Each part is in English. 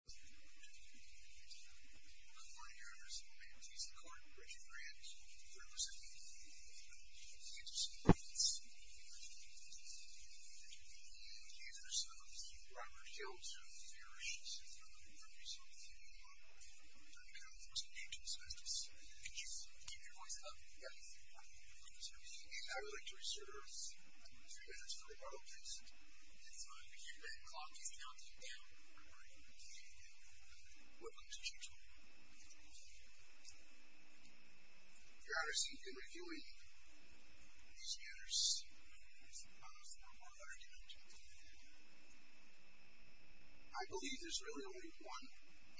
I'm here to present the California Artist of the Year piece of art, Richard Grant. We're representing the New York Philharmonic Orchestra, the Kansas Philharmonic, and the New York Philharmonic Orchestra. And we have the artists of Robert Hilt, Marish, and Synthra, who are going to be singing a lot of the New York Philharmonic Orchestra. And of course, Angel is going to be singing a lot of the New York Philharmonic Orchestra. Angel, can you keep your voice up? Yes. So, I would like to reserve a few minutes for the violinist. It's time to get back on to the outtake panel. We're going to be taking a look at what comes into play. Thank you. We've got our seat in reviewing these manners for a moral argument. I believe there's really only one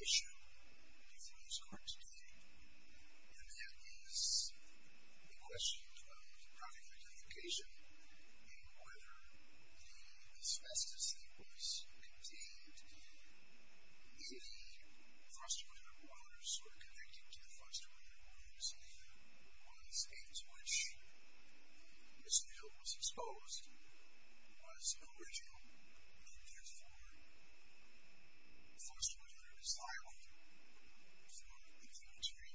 issue with these piece of art today, and that is the question of product identification, and whether the asbestos that was contained in the frustrator waters, or connected to the frustrator waters, in one of the states which Mr. Hilt was exposed, was an original movement for the frustrator, or desirable movement for the infirmitary.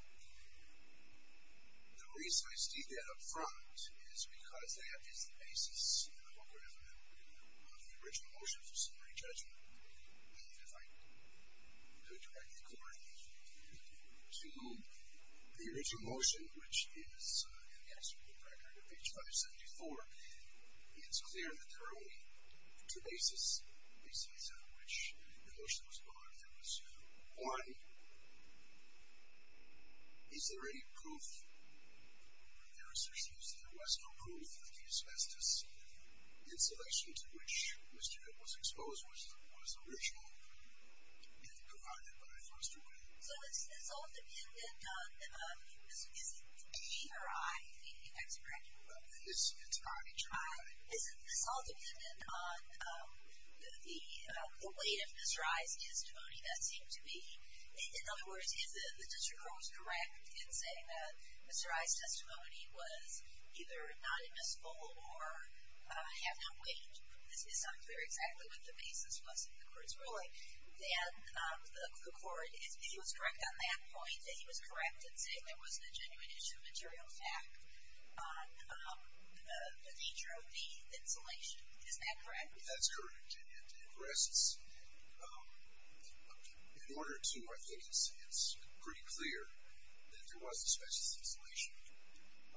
The reason I state that up front is because that is the basis, and I hope everyone will agree with that, of the original motion for summary judgment. And if I do it correctly, to the original motion, which is in the absolute record of H.574, and so there are only two bases on which the motion was brought. One, is there any proof, or there seems to be a less known proof that the asbestos in selection to which Mr. Hilt was exposed was original, and provided by a frustrator. So it's all dependent on, is he or I the expert? It's not a trial. It's all dependent on the weight of Mr. I's testimony that seemed to be, in other words, if the district court was correct in saying that Mr. I's testimony was either not admissible, or have no weight, this is unclear exactly what the basis was in the court's ruling, but then the court, if he was correct on that point, that he was correct in saying there wasn't a genuine issue of material fact on the nature of the insulation. Is that correct? That's correct, and it rests. In order to, I think it's pretty clear that there was asbestos insulation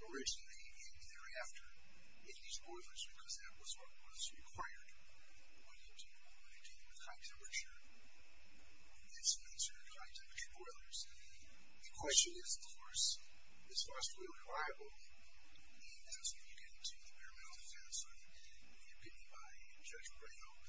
originally, and thereafter, in these boilers, because that was what was required when you deal with high-temperature insulation in high-temperature boilers. The question is, of course, is phosphor oil reliable? I'm going to ask you to get into the bare-methods answer, and you'll get me by Judge Brayhoff.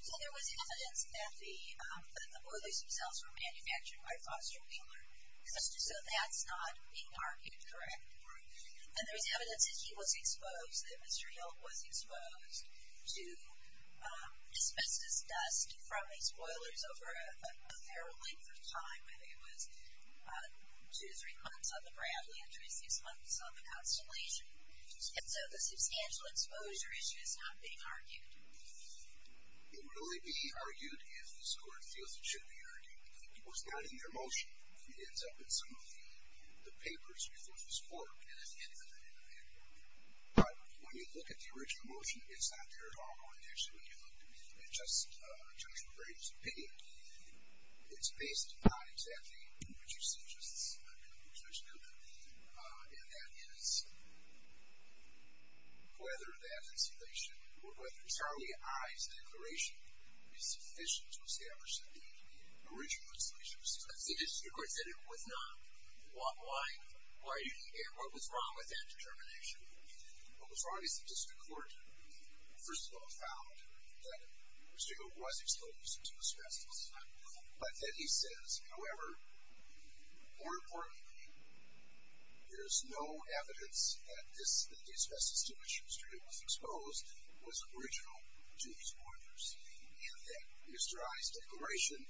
So there was evidence that the boilers themselves were manufactured by phosphor peeler, so that's not being argued, correct? Correct. And there's evidence that he was exposed, that Mr. Hill was exposed to asbestos dust from these boilers over a fair length of time. I think it was two to three months on the Bradley, and three to six months on the Constellation. And so the substantial exposure issue is not being argued. It would only be argued, as this Court feels it should be argued, that it was not in their motion, and it ends up in some of the papers before this Court. But when you look at the original motion, it's not there at all. Actually, when you look at Judge Brayhoff's opinion, it's basically not exactly what you see, just as there's no doubt. And that is, whether that insulation, or whether Charlie I's declaration is sufficient to establish the original insulation. The District Court said it was not. What was wrong with that determination? What was wrong is the District Court, first of all, found that Mr. Hill was exposed to asbestos. But then he says, however, more importantly, there's no evidence that the asbestos to which Mr. Hill was exposed was original to these boilers, and that Mr. I's declaration,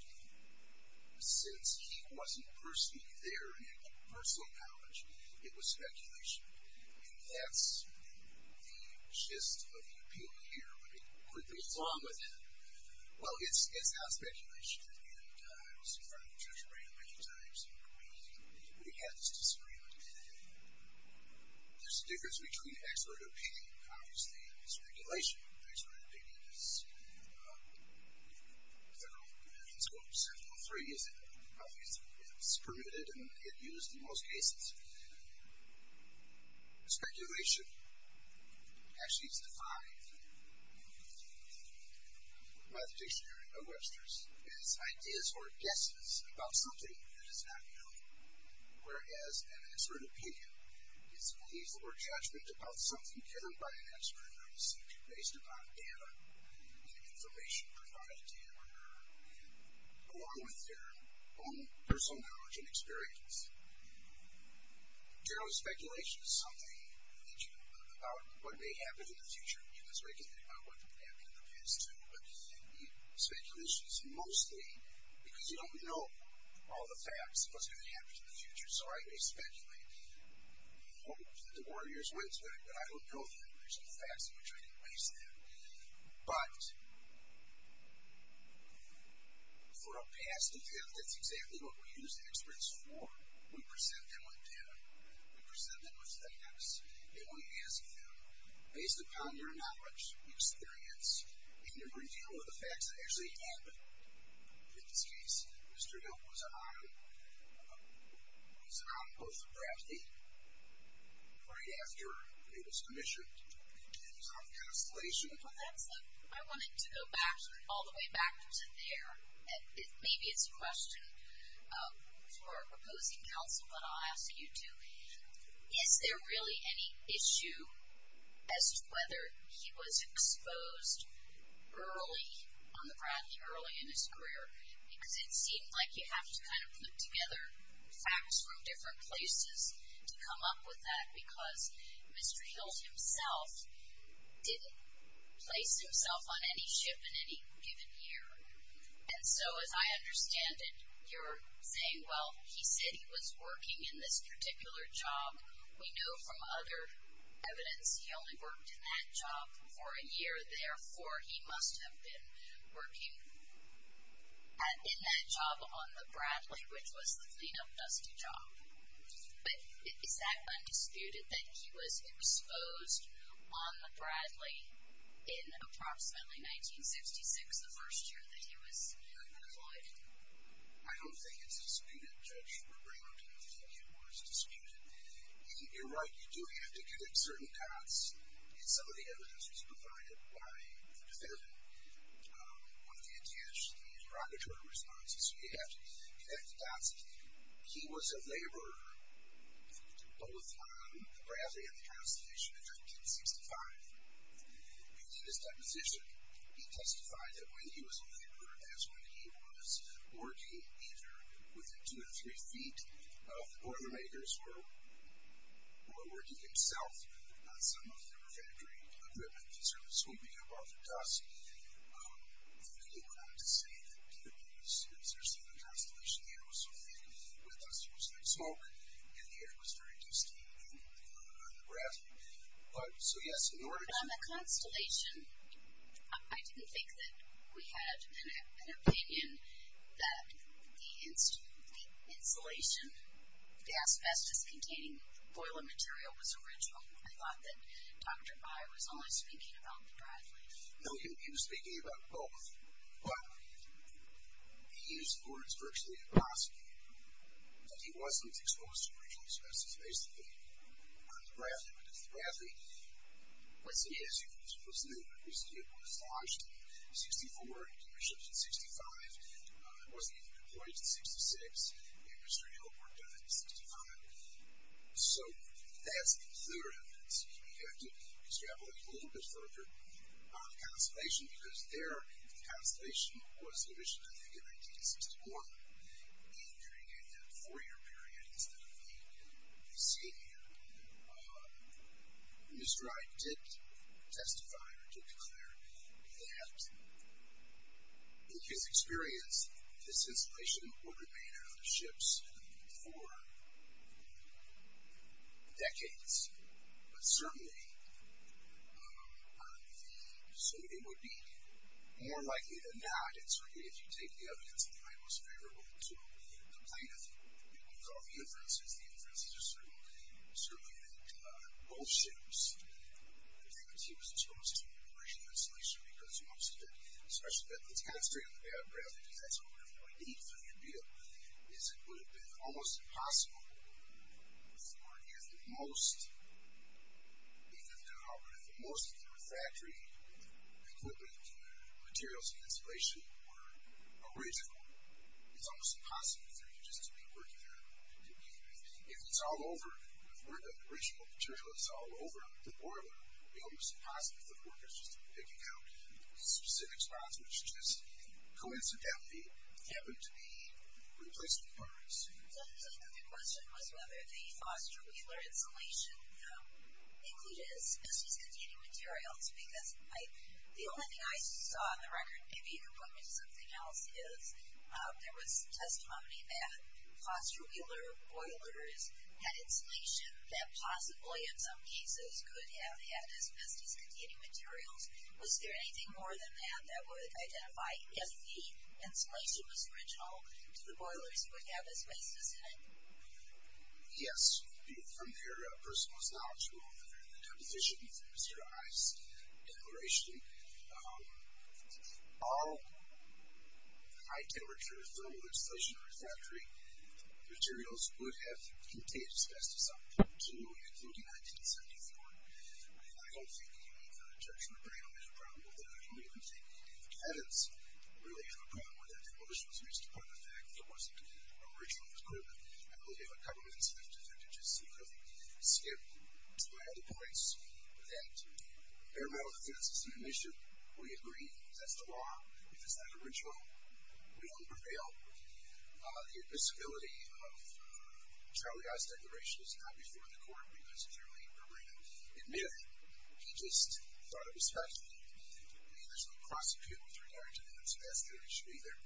since he wasn't personally there in any personal knowledge, it was speculation. And that's the gist of the opinion here. What could be wrong with that? Well, it's not speculation. And I was in front of Judge Brayhoff many times, and we had this disagreement. There's a difference between expert opinion and, obviously, speculation. Expert opinion is general opinion in scopes. Well, three is it's permitted and used in most cases. Speculation actually is defined by the dictionary of Webster's as ideas or guesses about something that is not known, whereas an expert opinion is belief or judgment about something given by an expert on a subject based upon data and information provided to him or her, along with their own personal knowledge and experience. General speculation is something about what may happen in the future. You guys already can think about what could happen in the past, too. But speculation is mostly because you don't know all the facts of what's going to happen in the future, so I may speculate. We hope that the Warriors win today, but I don't know that there's any facts in which I can base that. But for a past event, that's exactly what we use the experts for. We present them with data. We present them with facts, and we ask them, based upon their knowledge, experience, we can reveal the facts that actually happened. In this case, Mr. Hill was anonymous for Bradlee right after he was commissioned, and he's on the Constellation. I wanted to go all the way back to there. Maybe it's a question for a proposing counsel, but I'll ask you, too. Is there really any issue as to whether he was exposed early on the Bradlee, early in his career? Because it seems like you have to kind of put together facts from different places to come up with that, because Mr. Hill himself didn't place himself on any ship in any given year. And so, as I understand it, you're saying, well, he said he was working in this particular job. We know from other evidence he only worked in that job for a year. Therefore, he must have been working in that job on the Bradlee, which was the clean-up dusty job. But is that undisputed, that he was exposed on the Bradlee in approximately 1966, the first year that he was employed? I don't think it's disputed, Judge. We're bringing it up because I think it was disputed. You're right. You do have to connect certain dots. And some of the evidence was provided by the defendant on the interrogatory responses. So you have to connect the dots. He was a laborer both on the Bradlee and the transportation in 1965. And in his deposition, he testified that when he was a laborer, that's when he was working either within two or three feet of the boilermakers or working himself, on some of the refinery equipment. These are the swimming above the dust. And then he went on to say that, given that he was servicing the Constellation, the air was so thin with us, it was like smoke, and the air was very dusty on the Bradlee. So, yes, in order to- On the Constellation, I didn't think that we had an opinion that the insulation, the asbestos-containing boiler material was original. I thought that Dr. Byer was only speaking about the Bradlee. No, he was speaking about both. But he used words virtually impossible. That he wasn't exposed to original asbestos, basically, on the Bradlee. But the Bradlee, what's it is? What's the name of it? It was lodged in 64, initially in 65. It wasn't even deployed in 66, and Mr. Hill worked on it in 65. So, that's the clear evidence. You have to extrapolate a little bit further. On the Constellation, because there, the Constellation was commissioned, I think, in 1961. And during that four-year period, that's what you'll be seeing here, Mr. Wright did testify, or did declare, that in his experience, this insulation would remain on the ships for decades. But certainly, so it would be more likely than not, and certainly if you take the evidence that I was favorable to the plaintiff, and use all the inferences, the inferences are certainly that both ships, the plaintiff was exposed to original insulation because most of it, especially that it's kind of straight on the Bradlee, because that's what we're going to need for your bill, is it would have been almost impossible if you weren't here for the most, even if the most of your factory equipment, materials, and insulation were original. It's almost impossible for you just to be working there. If it's all over, if the original material is all over the boiler, it would be almost impossible for the workers just to be picking out specific spots, which just, coincidentally, happen to be replacement parts. So the question was whether the Foster Wheeler insulation included asbestos-containing materials, because the only thing I saw on the record, maybe you can point me to something else, is there was testimony that Foster Wheeler boilers had insulation that possibly, in some cases, could have had asbestos-containing materials. Was there anything more than that that would identify if the insulation was original to the boilers you would have as waste, as I said? Yes. From your personal knowledge, Mr. Ives' declaration, all high-temperature thermal insulation in our factory, materials would have contained asbestos on a particular unit, including 1974. I don't think you need to judge my brain on that problem, but I don't even think you have evidence of really having a problem with that. Well, this was raised upon the fact that it wasn't original equipment. I believe what governments have to do is to just skip to my other points, that bare metal defense is an initiative. We agree. That's the law. If it's not original, we don't prevail. The admissibility of Charlie Ives' declaration is not before the court. We necessarily agree to admit it. He just thought it was fascinating. I mean, there's no prosecution with regard to the asbestos issue either.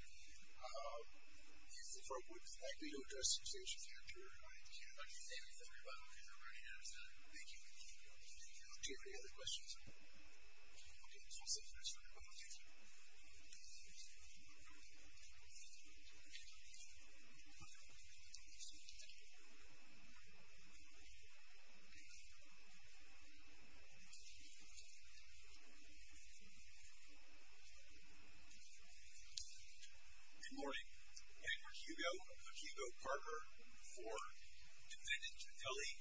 If the court would like me to address the situation I'd like to thank everybody who's already here. Thank you. Do you have any other questions? Okay. We'll see if there's time for questions. Good morning. My name is Hugo. I'm Hugo Carver IV, and then it's Philly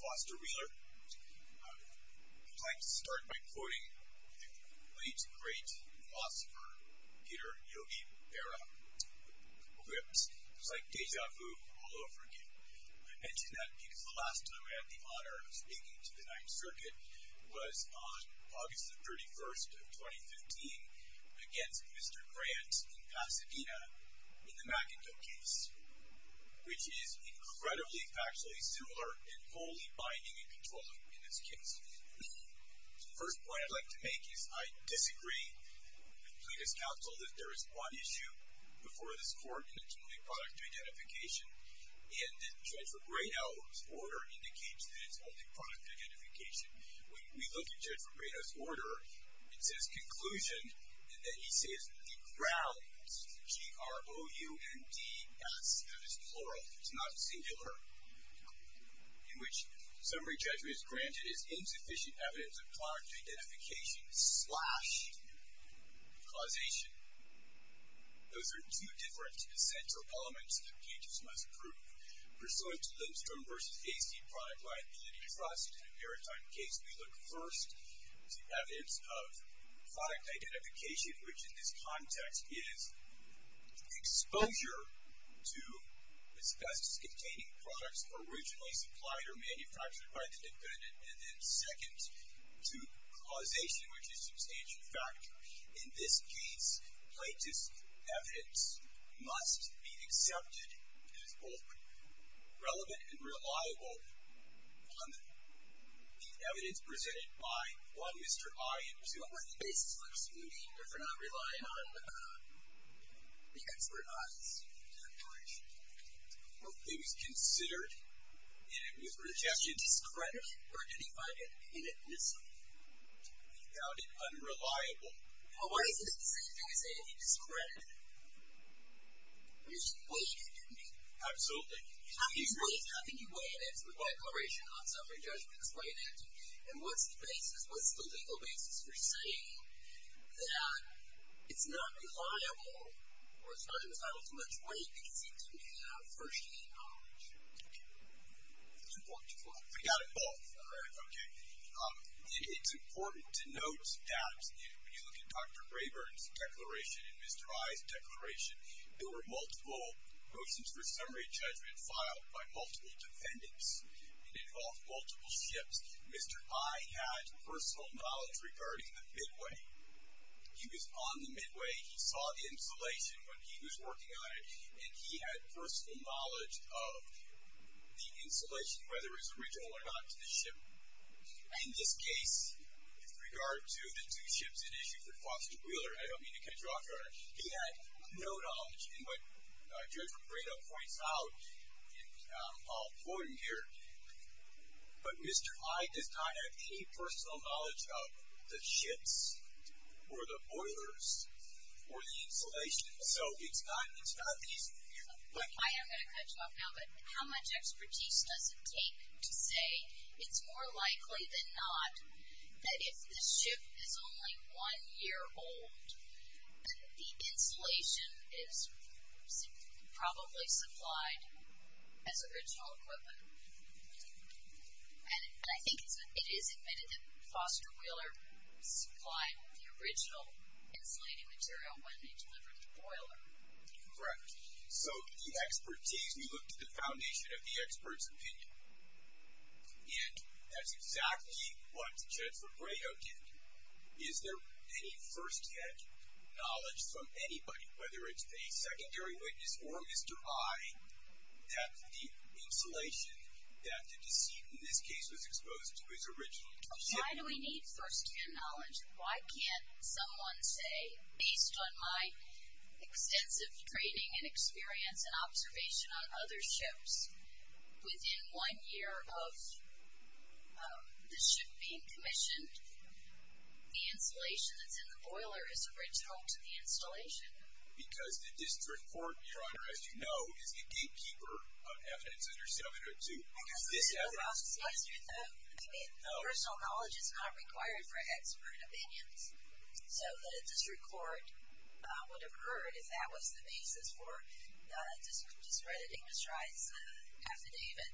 Foster Wheeler. I'd like to start by quoting the late, great philosopher Peter Yogi Berra. It's like deja vu all over again. I mention that because the last time I had the honor of speaking to the Ninth Circuit was on August the 31st of 2015 against Mr. Grant in Pasadena in the McIntosh case, which is incredibly factually similar and wholly binding and controllable in this case. The first point I'd like to make is I disagree with Plata's counsel that there is one issue before this court, and it's only product identification, and that Judge Robredo's order indicates that it's only product identification. When we look at Judge Robredo's order, it says conclusion, and then he says the grounds, G-R-O-U-N-D-S. That is plural. It's not singular. In which summary judgment is granted is insufficient evidence of product identification slash causation. Those are two different essential elements that judges must prove. Pursuant to Lindstrom v. Hastie product liability trust in a maritime case, we look first to evidence of product identification, which in this context is exposure to asbestos-containing products originally supplied or manufactured by the defendant, and then second to causation, which is substantial factor. In this case, Plata's evidence must be accepted as both relevant and reliable on the evidence presented by one Mr. I. So on what basis would you mean that they're not reliant on the expert eyes? It was considered, and it was projected. Was it discredited, or did he find it inadmissible? He found it unreliable. Well, why is this the same thing as saying it was discredited? Because you weighed it, didn't you? Absolutely. How do you weigh it? How do you weigh an answer by a declaration on summary judgment? Explain it, and what's the basis, what's the legal basis for saying that it's not reliable, or it's not entitled to much weight because he didn't have first-hand knowledge? It's important to note. We got it both. All right, okay. It's important to note that when you look at Dr. Braeburn's declaration and Mr. I.'s declaration, there were multiple motions for summary judgment filed by multiple defendants. It involved multiple ships. Mr. I. had personal knowledge regarding the Midway. He was on the Midway. He saw the installation when he was working on it, and he had personal knowledge of the installation, whether it was original or not, to the ship. In this case, with regard to the two ships at issue for Foster Wheeler, I don't mean to cut you off, Your Honor, but he had no knowledge. And what Judge Rapredo points out, and I'll forward him here, but Mr. I. does not have any personal knowledge of the ships or the boilers or the installation, so it's not an easy issue. I am going to cut you off now, but how much expertise does it take to say it's more likely than not that if the ship is only one year old, the installation is probably supplied as original equipment. And I think it is admitted that Foster Wheeler supplied the original insulating material when they delivered the boiler. Correct. So the expertise, we looked at the foundation of the expert's opinion, and that's exactly what Judge Rapredo did. Is there any first-hand knowledge from anybody, whether it's a secondary witness or Mr. I., that the insulation that the deceit in this case was exposed to was original to the ship? Why do we need first-hand knowledge? Why can't someone say, based on my extensive training and experience and observation on other ships, within one year of the ship being commissioned, the insulation that's in the boiler is original to the installation? Because the district court, Your Honor, as you know, is the gatekeeper of evidence under 702. Is this evidence? I mean, personal knowledge is not required for expert opinions. So the district court would have heard if that was the basis for the district's crediting mistrust affidavit.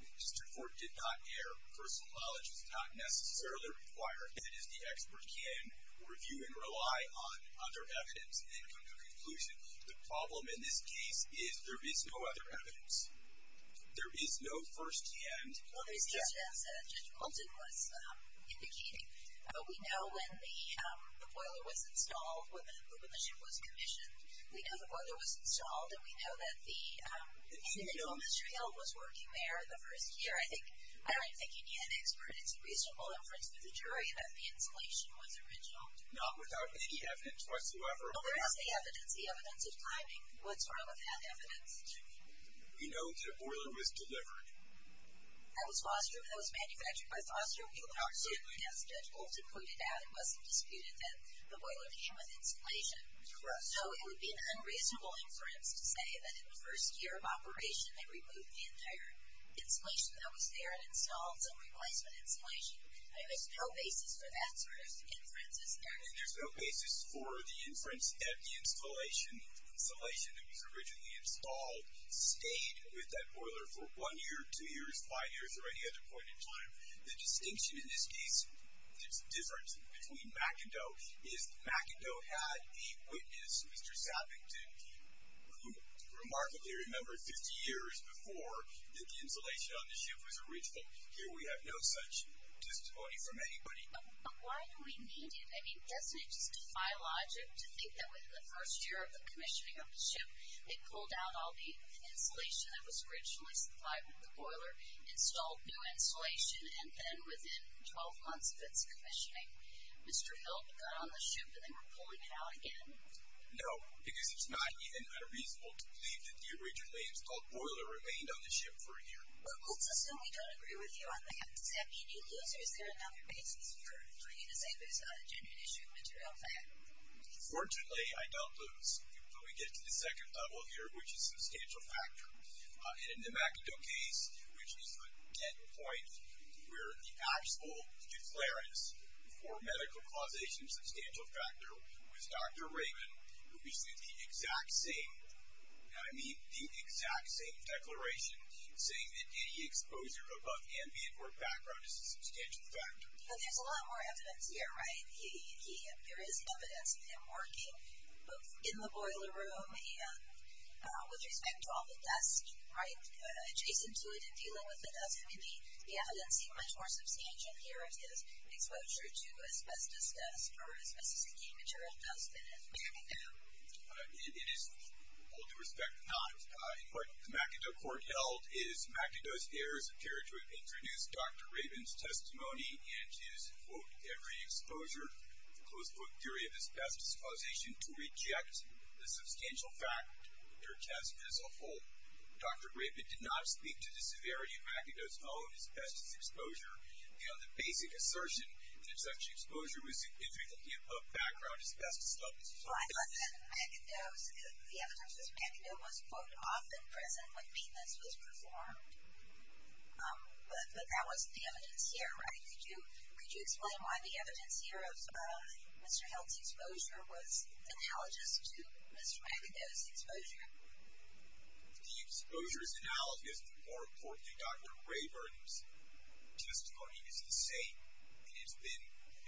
The district court did not care. Personal knowledge is not necessarily required. If it is, the expert can review and rely on other evidence and come to a conclusion. The problem in this case is there is no other evidence. There is no first-hand evidence. Well, it's just as Judge Moulton was indicating. We know when the boiler was installed, when the ship was commissioned, we know the boiler was installed, and we know that the information was working there the first year. I don't think you need an expert. It's a reasonable inference for the jury that the insulation was original. Not without any evidence whatsoever. Well, there is the evidence, the evidence of timing. What's wrong with that evidence? We know the boiler was delivered. That was Foster, and that was manufactured by Foster. We would argue against it. Judge Moulton pointed out it wasn't disputed that the boiler came with insulation. So it would be an unreasonable inference to say that in the first year of operation they removed the entire insulation that was there and installed some replacement insulation. There's no basis for that sort of inference, is there? And there's no basis for the inference that the insulation that was originally installed stayed with that boiler for 1 year, 2 years, 5 years, or any other point in time. The distinction in this case, there's a difference between Mack and Doe, is Mack and Doe had a witness, Mr. Sappington, who remarkably remembered 50 years before that the insulation on the ship was original. Here we have no such testimony from anybody. But why do we need it? I mean, doesn't it just defy logic to think that within the first year of the commissioning of the ship they pulled out all the insulation that was originally supplied with the boiler, installed new insulation, and then within 12 months of its commissioning Mr. Milk got on the ship and they were pulling it out again? No, because it's not even unreasonable to believe that the originally installed boiler remained on the ship for a year. Well, we'll assume we don't agree with you on that. Does that mean you lose or is there another basis for you to say that it's not a genuine issue of material fact? Fortunately, I don't lose. But we get to the second level here, which is substantial factor. In the Mack and Doe case, which is a dead point, where the actual declarence for medical causation, substantial factor, was Dr. Raymond, we see the exact same declaration saying that the exposure above ambient work background is a substantial factor. But there's a lot more evidence here, right? There is evidence of him working both in the boiler room and with respect to all the dust, right? Adjacent to it and dealing with it, doesn't the evidence seem much more substantial here in regards to his exposure to asbestos dust or asbestos-making material dust than it may have been? It is, with all due respect, not. In what the Mack and Doe court held is Mack and Doe's heirs appear to have introduced Dr. Raymond's testimony and his, quote, every exposure, close quote, theory of asbestos causation to reject the substantial factor test as a whole. Dr. Raymond did not speak to the severity of Mack and Doe's own asbestos exposure. You know, the basic assertion that such exposure was due to him above background asbestos dust is false. Well, I thought that in Mack and Doe's, the evidence of Mack and Doe was, quote, often present when maintenance was performed. But that wasn't the evidence here, right? Could you explain why the evidence here of Mr. Hill's exposure was analogous to Mr. Mack and Doe's exposure? The exposure's analogy is more important than Dr. Rayburn's. His testimony is the same, and it's been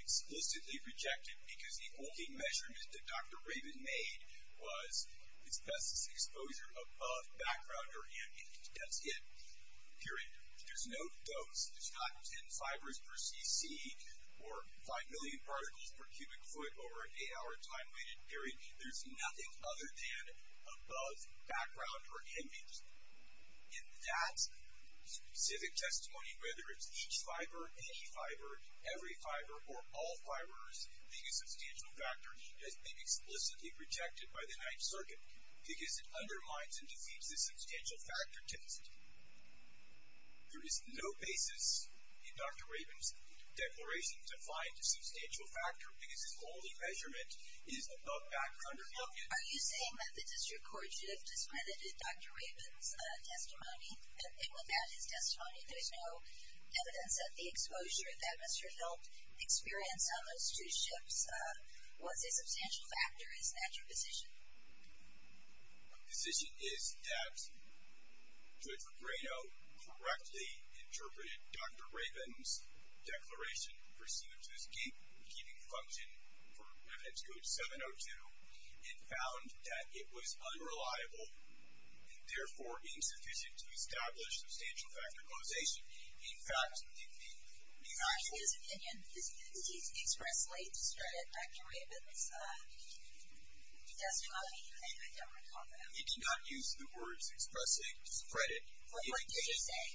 explicitly rejected because the only measurement that Dr. Rayburn made was asbestos exposure above background or image. That's it, period. There's no dose. There's not 10 fibers per cc or 5 million particles per cubic foot over an 8-hour time period. There's nothing other than above background or image. In that specific testimony, whether it's each fiber, any fiber, every fiber, or all fibers being a substantial factor, it has been explicitly rejected by the Ninth Circuit because it undermines and defeats the substantial factor test. There is no basis in Dr. Rayburn's declaration to find a substantial factor because his only measurement is above background or image. Are you saying that the district court should have discredited Dr. Rayburn's testimony? And without his testimony, there's no evidence that the exposure that Mr. Hill experienced on those two ships was a substantial factor, is that your position? My position is that Judge Pegrino correctly interpreted Dr. Rayburn's declaration, pursued his gatekeeping function for Revenants Code 702, and found that it was unreliable, and therefore insufficient to establish substantial factor causation. In fact, the... In his opinion, did he expressly discredit Dr. Rayburn's testimony? I don't recall that. He did not use the words expressly discredit. What did you say?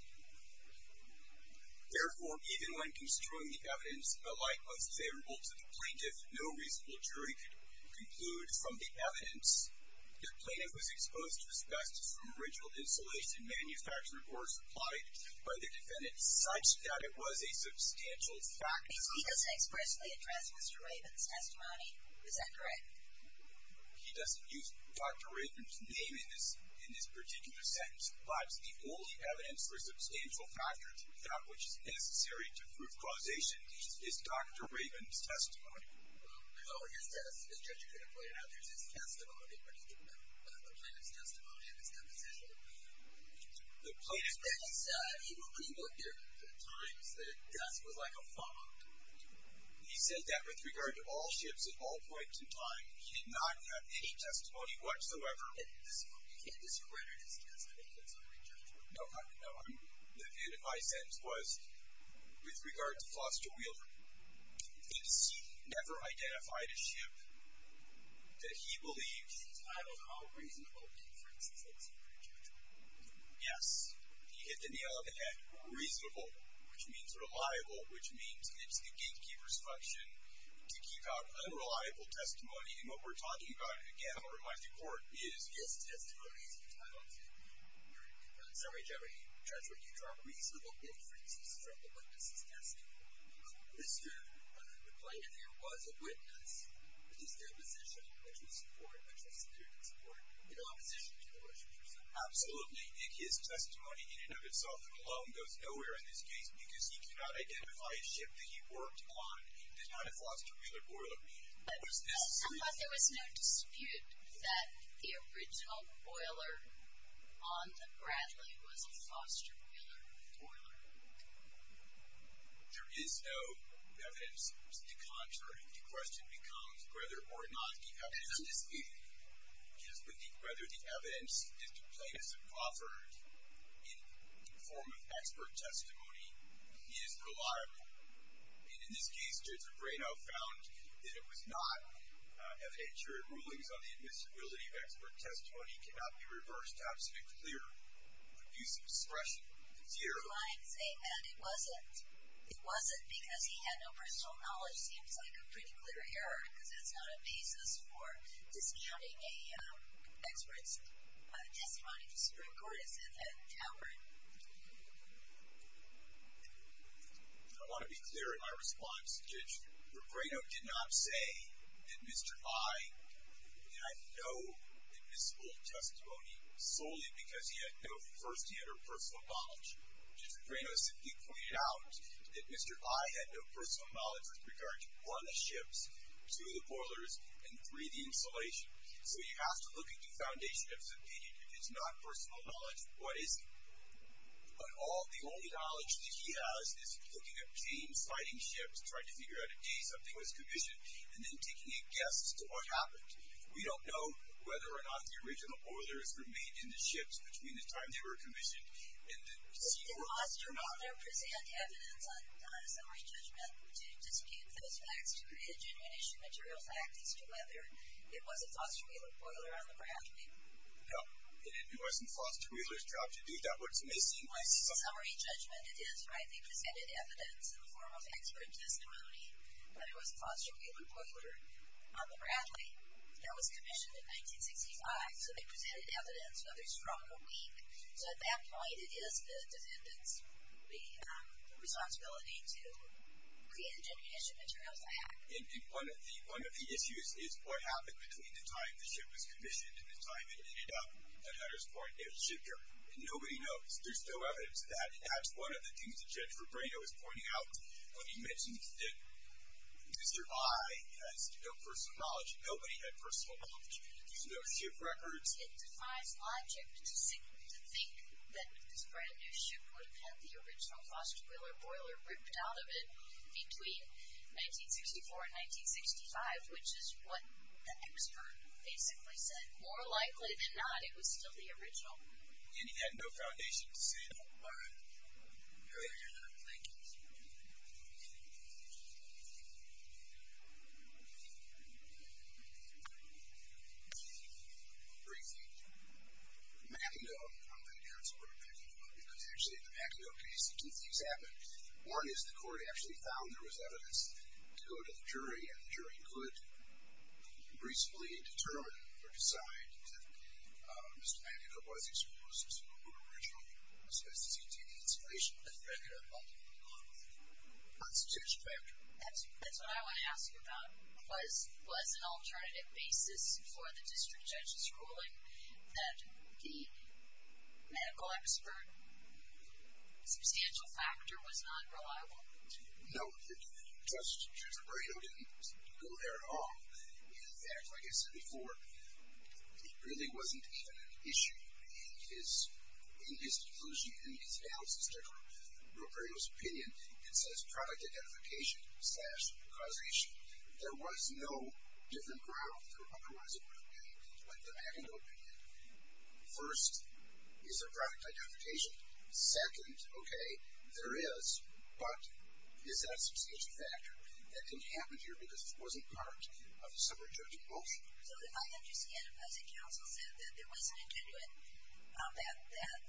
Therefore, even when construing the evidence, the light was favorable to the plaintiff. No reasonable jury could conclude from the evidence that plaintiff was exposed to asbestos from original insulation manufactured or supplied by the defendant such that it was a substantial factor. He doesn't expressly address Mr. Rayburn's testimony. Is that correct? He doesn't use Dr. Rayburn's name in this particular sentence, but the only evidence for substantial factor, without which it's necessary to prove causation, is Dr. Rayburn's testimony. Well, I thought what you're saying is that Judge Pegrino pointed out there's his testimony, but he didn't mention the plaintiff's testimony and his deposition. The plaintiff's testimony... He will agree with you. At times, the dust was like a fog. He said that with regard to all ships at all points in time, he did not have any testimony whatsoever. You can't discredit his testimony. That's unrejectable. No, I'm... The view that my sentence was, with regard to Foster Wielder, it's never identified a ship that he believes... He titled all reasonable differences. That's unrejectable. Yes. He hit the nail on the head. Reasonable, which means reliable, which means it's the gatekeeper's function to keep out unreliable testimony. And what we're talking about again, as someone who replies to court, is... His testimony is entitled to... Sorry, Jeffrey. Judge, would you draw reasonable differences from the witness' testimony? Mr. Plaintiff, there was a witness, but his deposition, which was supported, which was clearly supported, in opposition to the rest of your sentence. Absolutely. His testimony in and of itself alone goes nowhere in this case because he could not identify a ship that he worked on that did not have Foster Wielder. Was this... I thought there was no dispute that the original boiler on the Bradley was a Foster Wielder boiler. There is no evidence. It's the contrary. The question becomes whether or not the evidence is... Just with the... Whether the evidence that the plaintiff offered in the form of expert testimony is reliable. And in this case, Judge O'Brieno found that it was not. FHRA rulings on the admissibility of expert testimony cannot be reversed to absent a clear abuse of expression. Zero. I'm saying that it wasn't. It wasn't because he had no personal knowledge seems like a pretty clear error because that's not a basis for discounting an expert's testimony to Supreme Court. It's a towering... I want to be clear in my response. Judge O'Brieno did not say that Mr. I. had no admissible testimony solely because he had no firsthand or personal knowledge. Judge O'Brieno simply pointed out that Mr. I. had no personal knowledge with regard to 1, the ships, 2, the boilers, and 3, the installation. So you have to look at the foundation of his opinion. If it's not personal knowledge, what is it? But the only knowledge that he has is looking at James fighting ships, trying to figure out a case up to his commission, and then taking a guess as to what happened. We don't know whether or not the original boilers remained in the ships between the time they were commissioned and the secret was not... Did Foster Wheeler present evidence on his own judgment to dispute those facts to create a genuine issue material fact as to whether it was a Foster Wheeler boiler on the ground? No. It wasn't Foster Wheeler's job to do that. What's amazing... Well, it's a summary judgment, it is, right? They presented evidence in the form of expert testimony that it was a Foster Wheeler boiler on the Bradley that was commissioned in 1965. So they presented evidence whether strong or weak. So at that point, it is the defendant's responsibility to create a genuine issue material fact. One of the issues is what happened between the time the ship was commissioned and the time it ended up at Hutter's Point, it was shipped here. And nobody knows. There's no evidence of that. That's one of the things that Jennifer Braino is pointing out. You mentioned that Mr. I has no personal knowledge. Nobody had personal knowledge. There's no ship records. It defies logic to think that this brand-new ship would have had the original Foster Wheeler boiler ripped out of it between 1964 and 1965, which is what the expert basically said. More likely than not, it was still the original. And he had no foundation to say that. All right. Go ahead. Thank you, sir. Briefing. McIndoe, I'm an expert on McIndoe because actually in the McIndoe case, two things happened. One is the court actually found there was evidence to go to the jury, and the jury could reasonably determine or decide that Mr. McIndoe was exposed to an original asbestos-eating installation that had nothing to do with the constitutional factor. That's what I want to ask you about. Was an alternative basis for the district judge's ruling that the medical expert substantial factor was not reliable? No. Judge Robredo didn't go there at all. In fact, like I said before, it really wasn't even an issue. In his conclusion, in his analysis, in Robredo's opinion, it says product identification slash causation. There was no different ground than otherwise it would have been in the McIndoe opinion. First, is there product identification? Second, okay, there is, but is that a substantial factor? That didn't happen here because it wasn't part of the suburban judge's motion. So if I understand it, as the counsel said, that there wasn't a genuine, that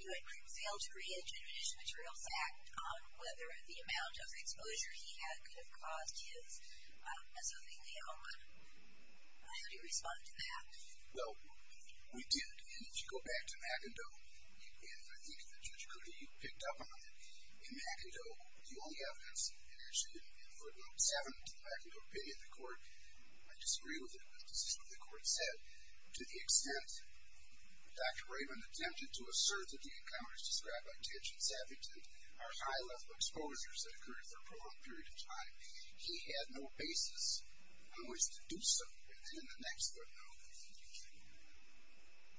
you had failed to create a genuine issue material to act on whether the amount of exposure he had could have caused his as a lenient homeowner, how do you respond to that? Well, we did, and if you go back to McIndoe, and I think that Judge Cuddy picked up on it, in McIndoe, the only evidence in issue, in footnote 7 to the McIndoe opinion, the court might disagree with it, but this is what the court said. To the extent Dr. Raven attempted to assert that the encounters described by Titch and Saffington are high-level exposures that occurred for a prolonged period of time, he had no basis on which to do so within the next footnote.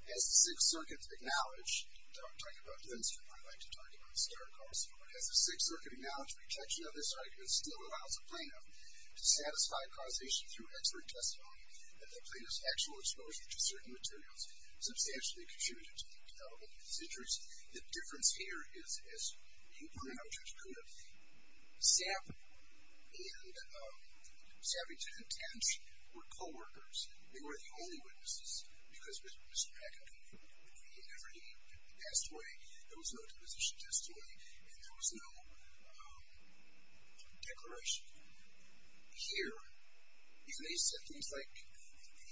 As the Sixth Circuit acknowledged, and I'm talking about Lindstrom, I'd like to talk about Starr Carson, as the Sixth Circuit acknowledged the rejection of this argument still allows a plaintiff to satisfy causation through expert testimony that the plaintiff's actual exposure to certain materials substantially contributed to the development of his injuries. The difference here is, as you pointed out, Judge Cuddy, Saff and Saffington and Titch were co-workers. They were the only witnesses, because Mr. McIndoe, he never, he passed away. There was no deposition testimony, and there was no declaration. Here, he may have said things like,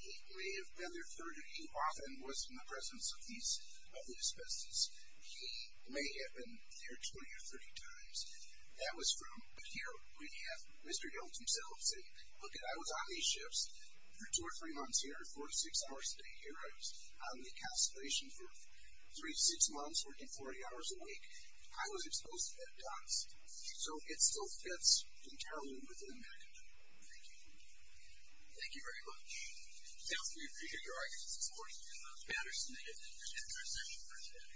he may have been there 30, he often was in the presence of these, of these species. He may have been there 20 or 30 times. That was from, but here we have Mr. Yeltsin himself saying, look it, I was on these ships for two or three months here, for six hours a day here. I was on the castration for three, six months, working 40 hours a week. I was exposed to peptides. So it still fits entirely within McIndoe. Thank you. Thank you very much. Counsel, we appreciate your arguments. It's important to get those matters submitted at the end of our session for today.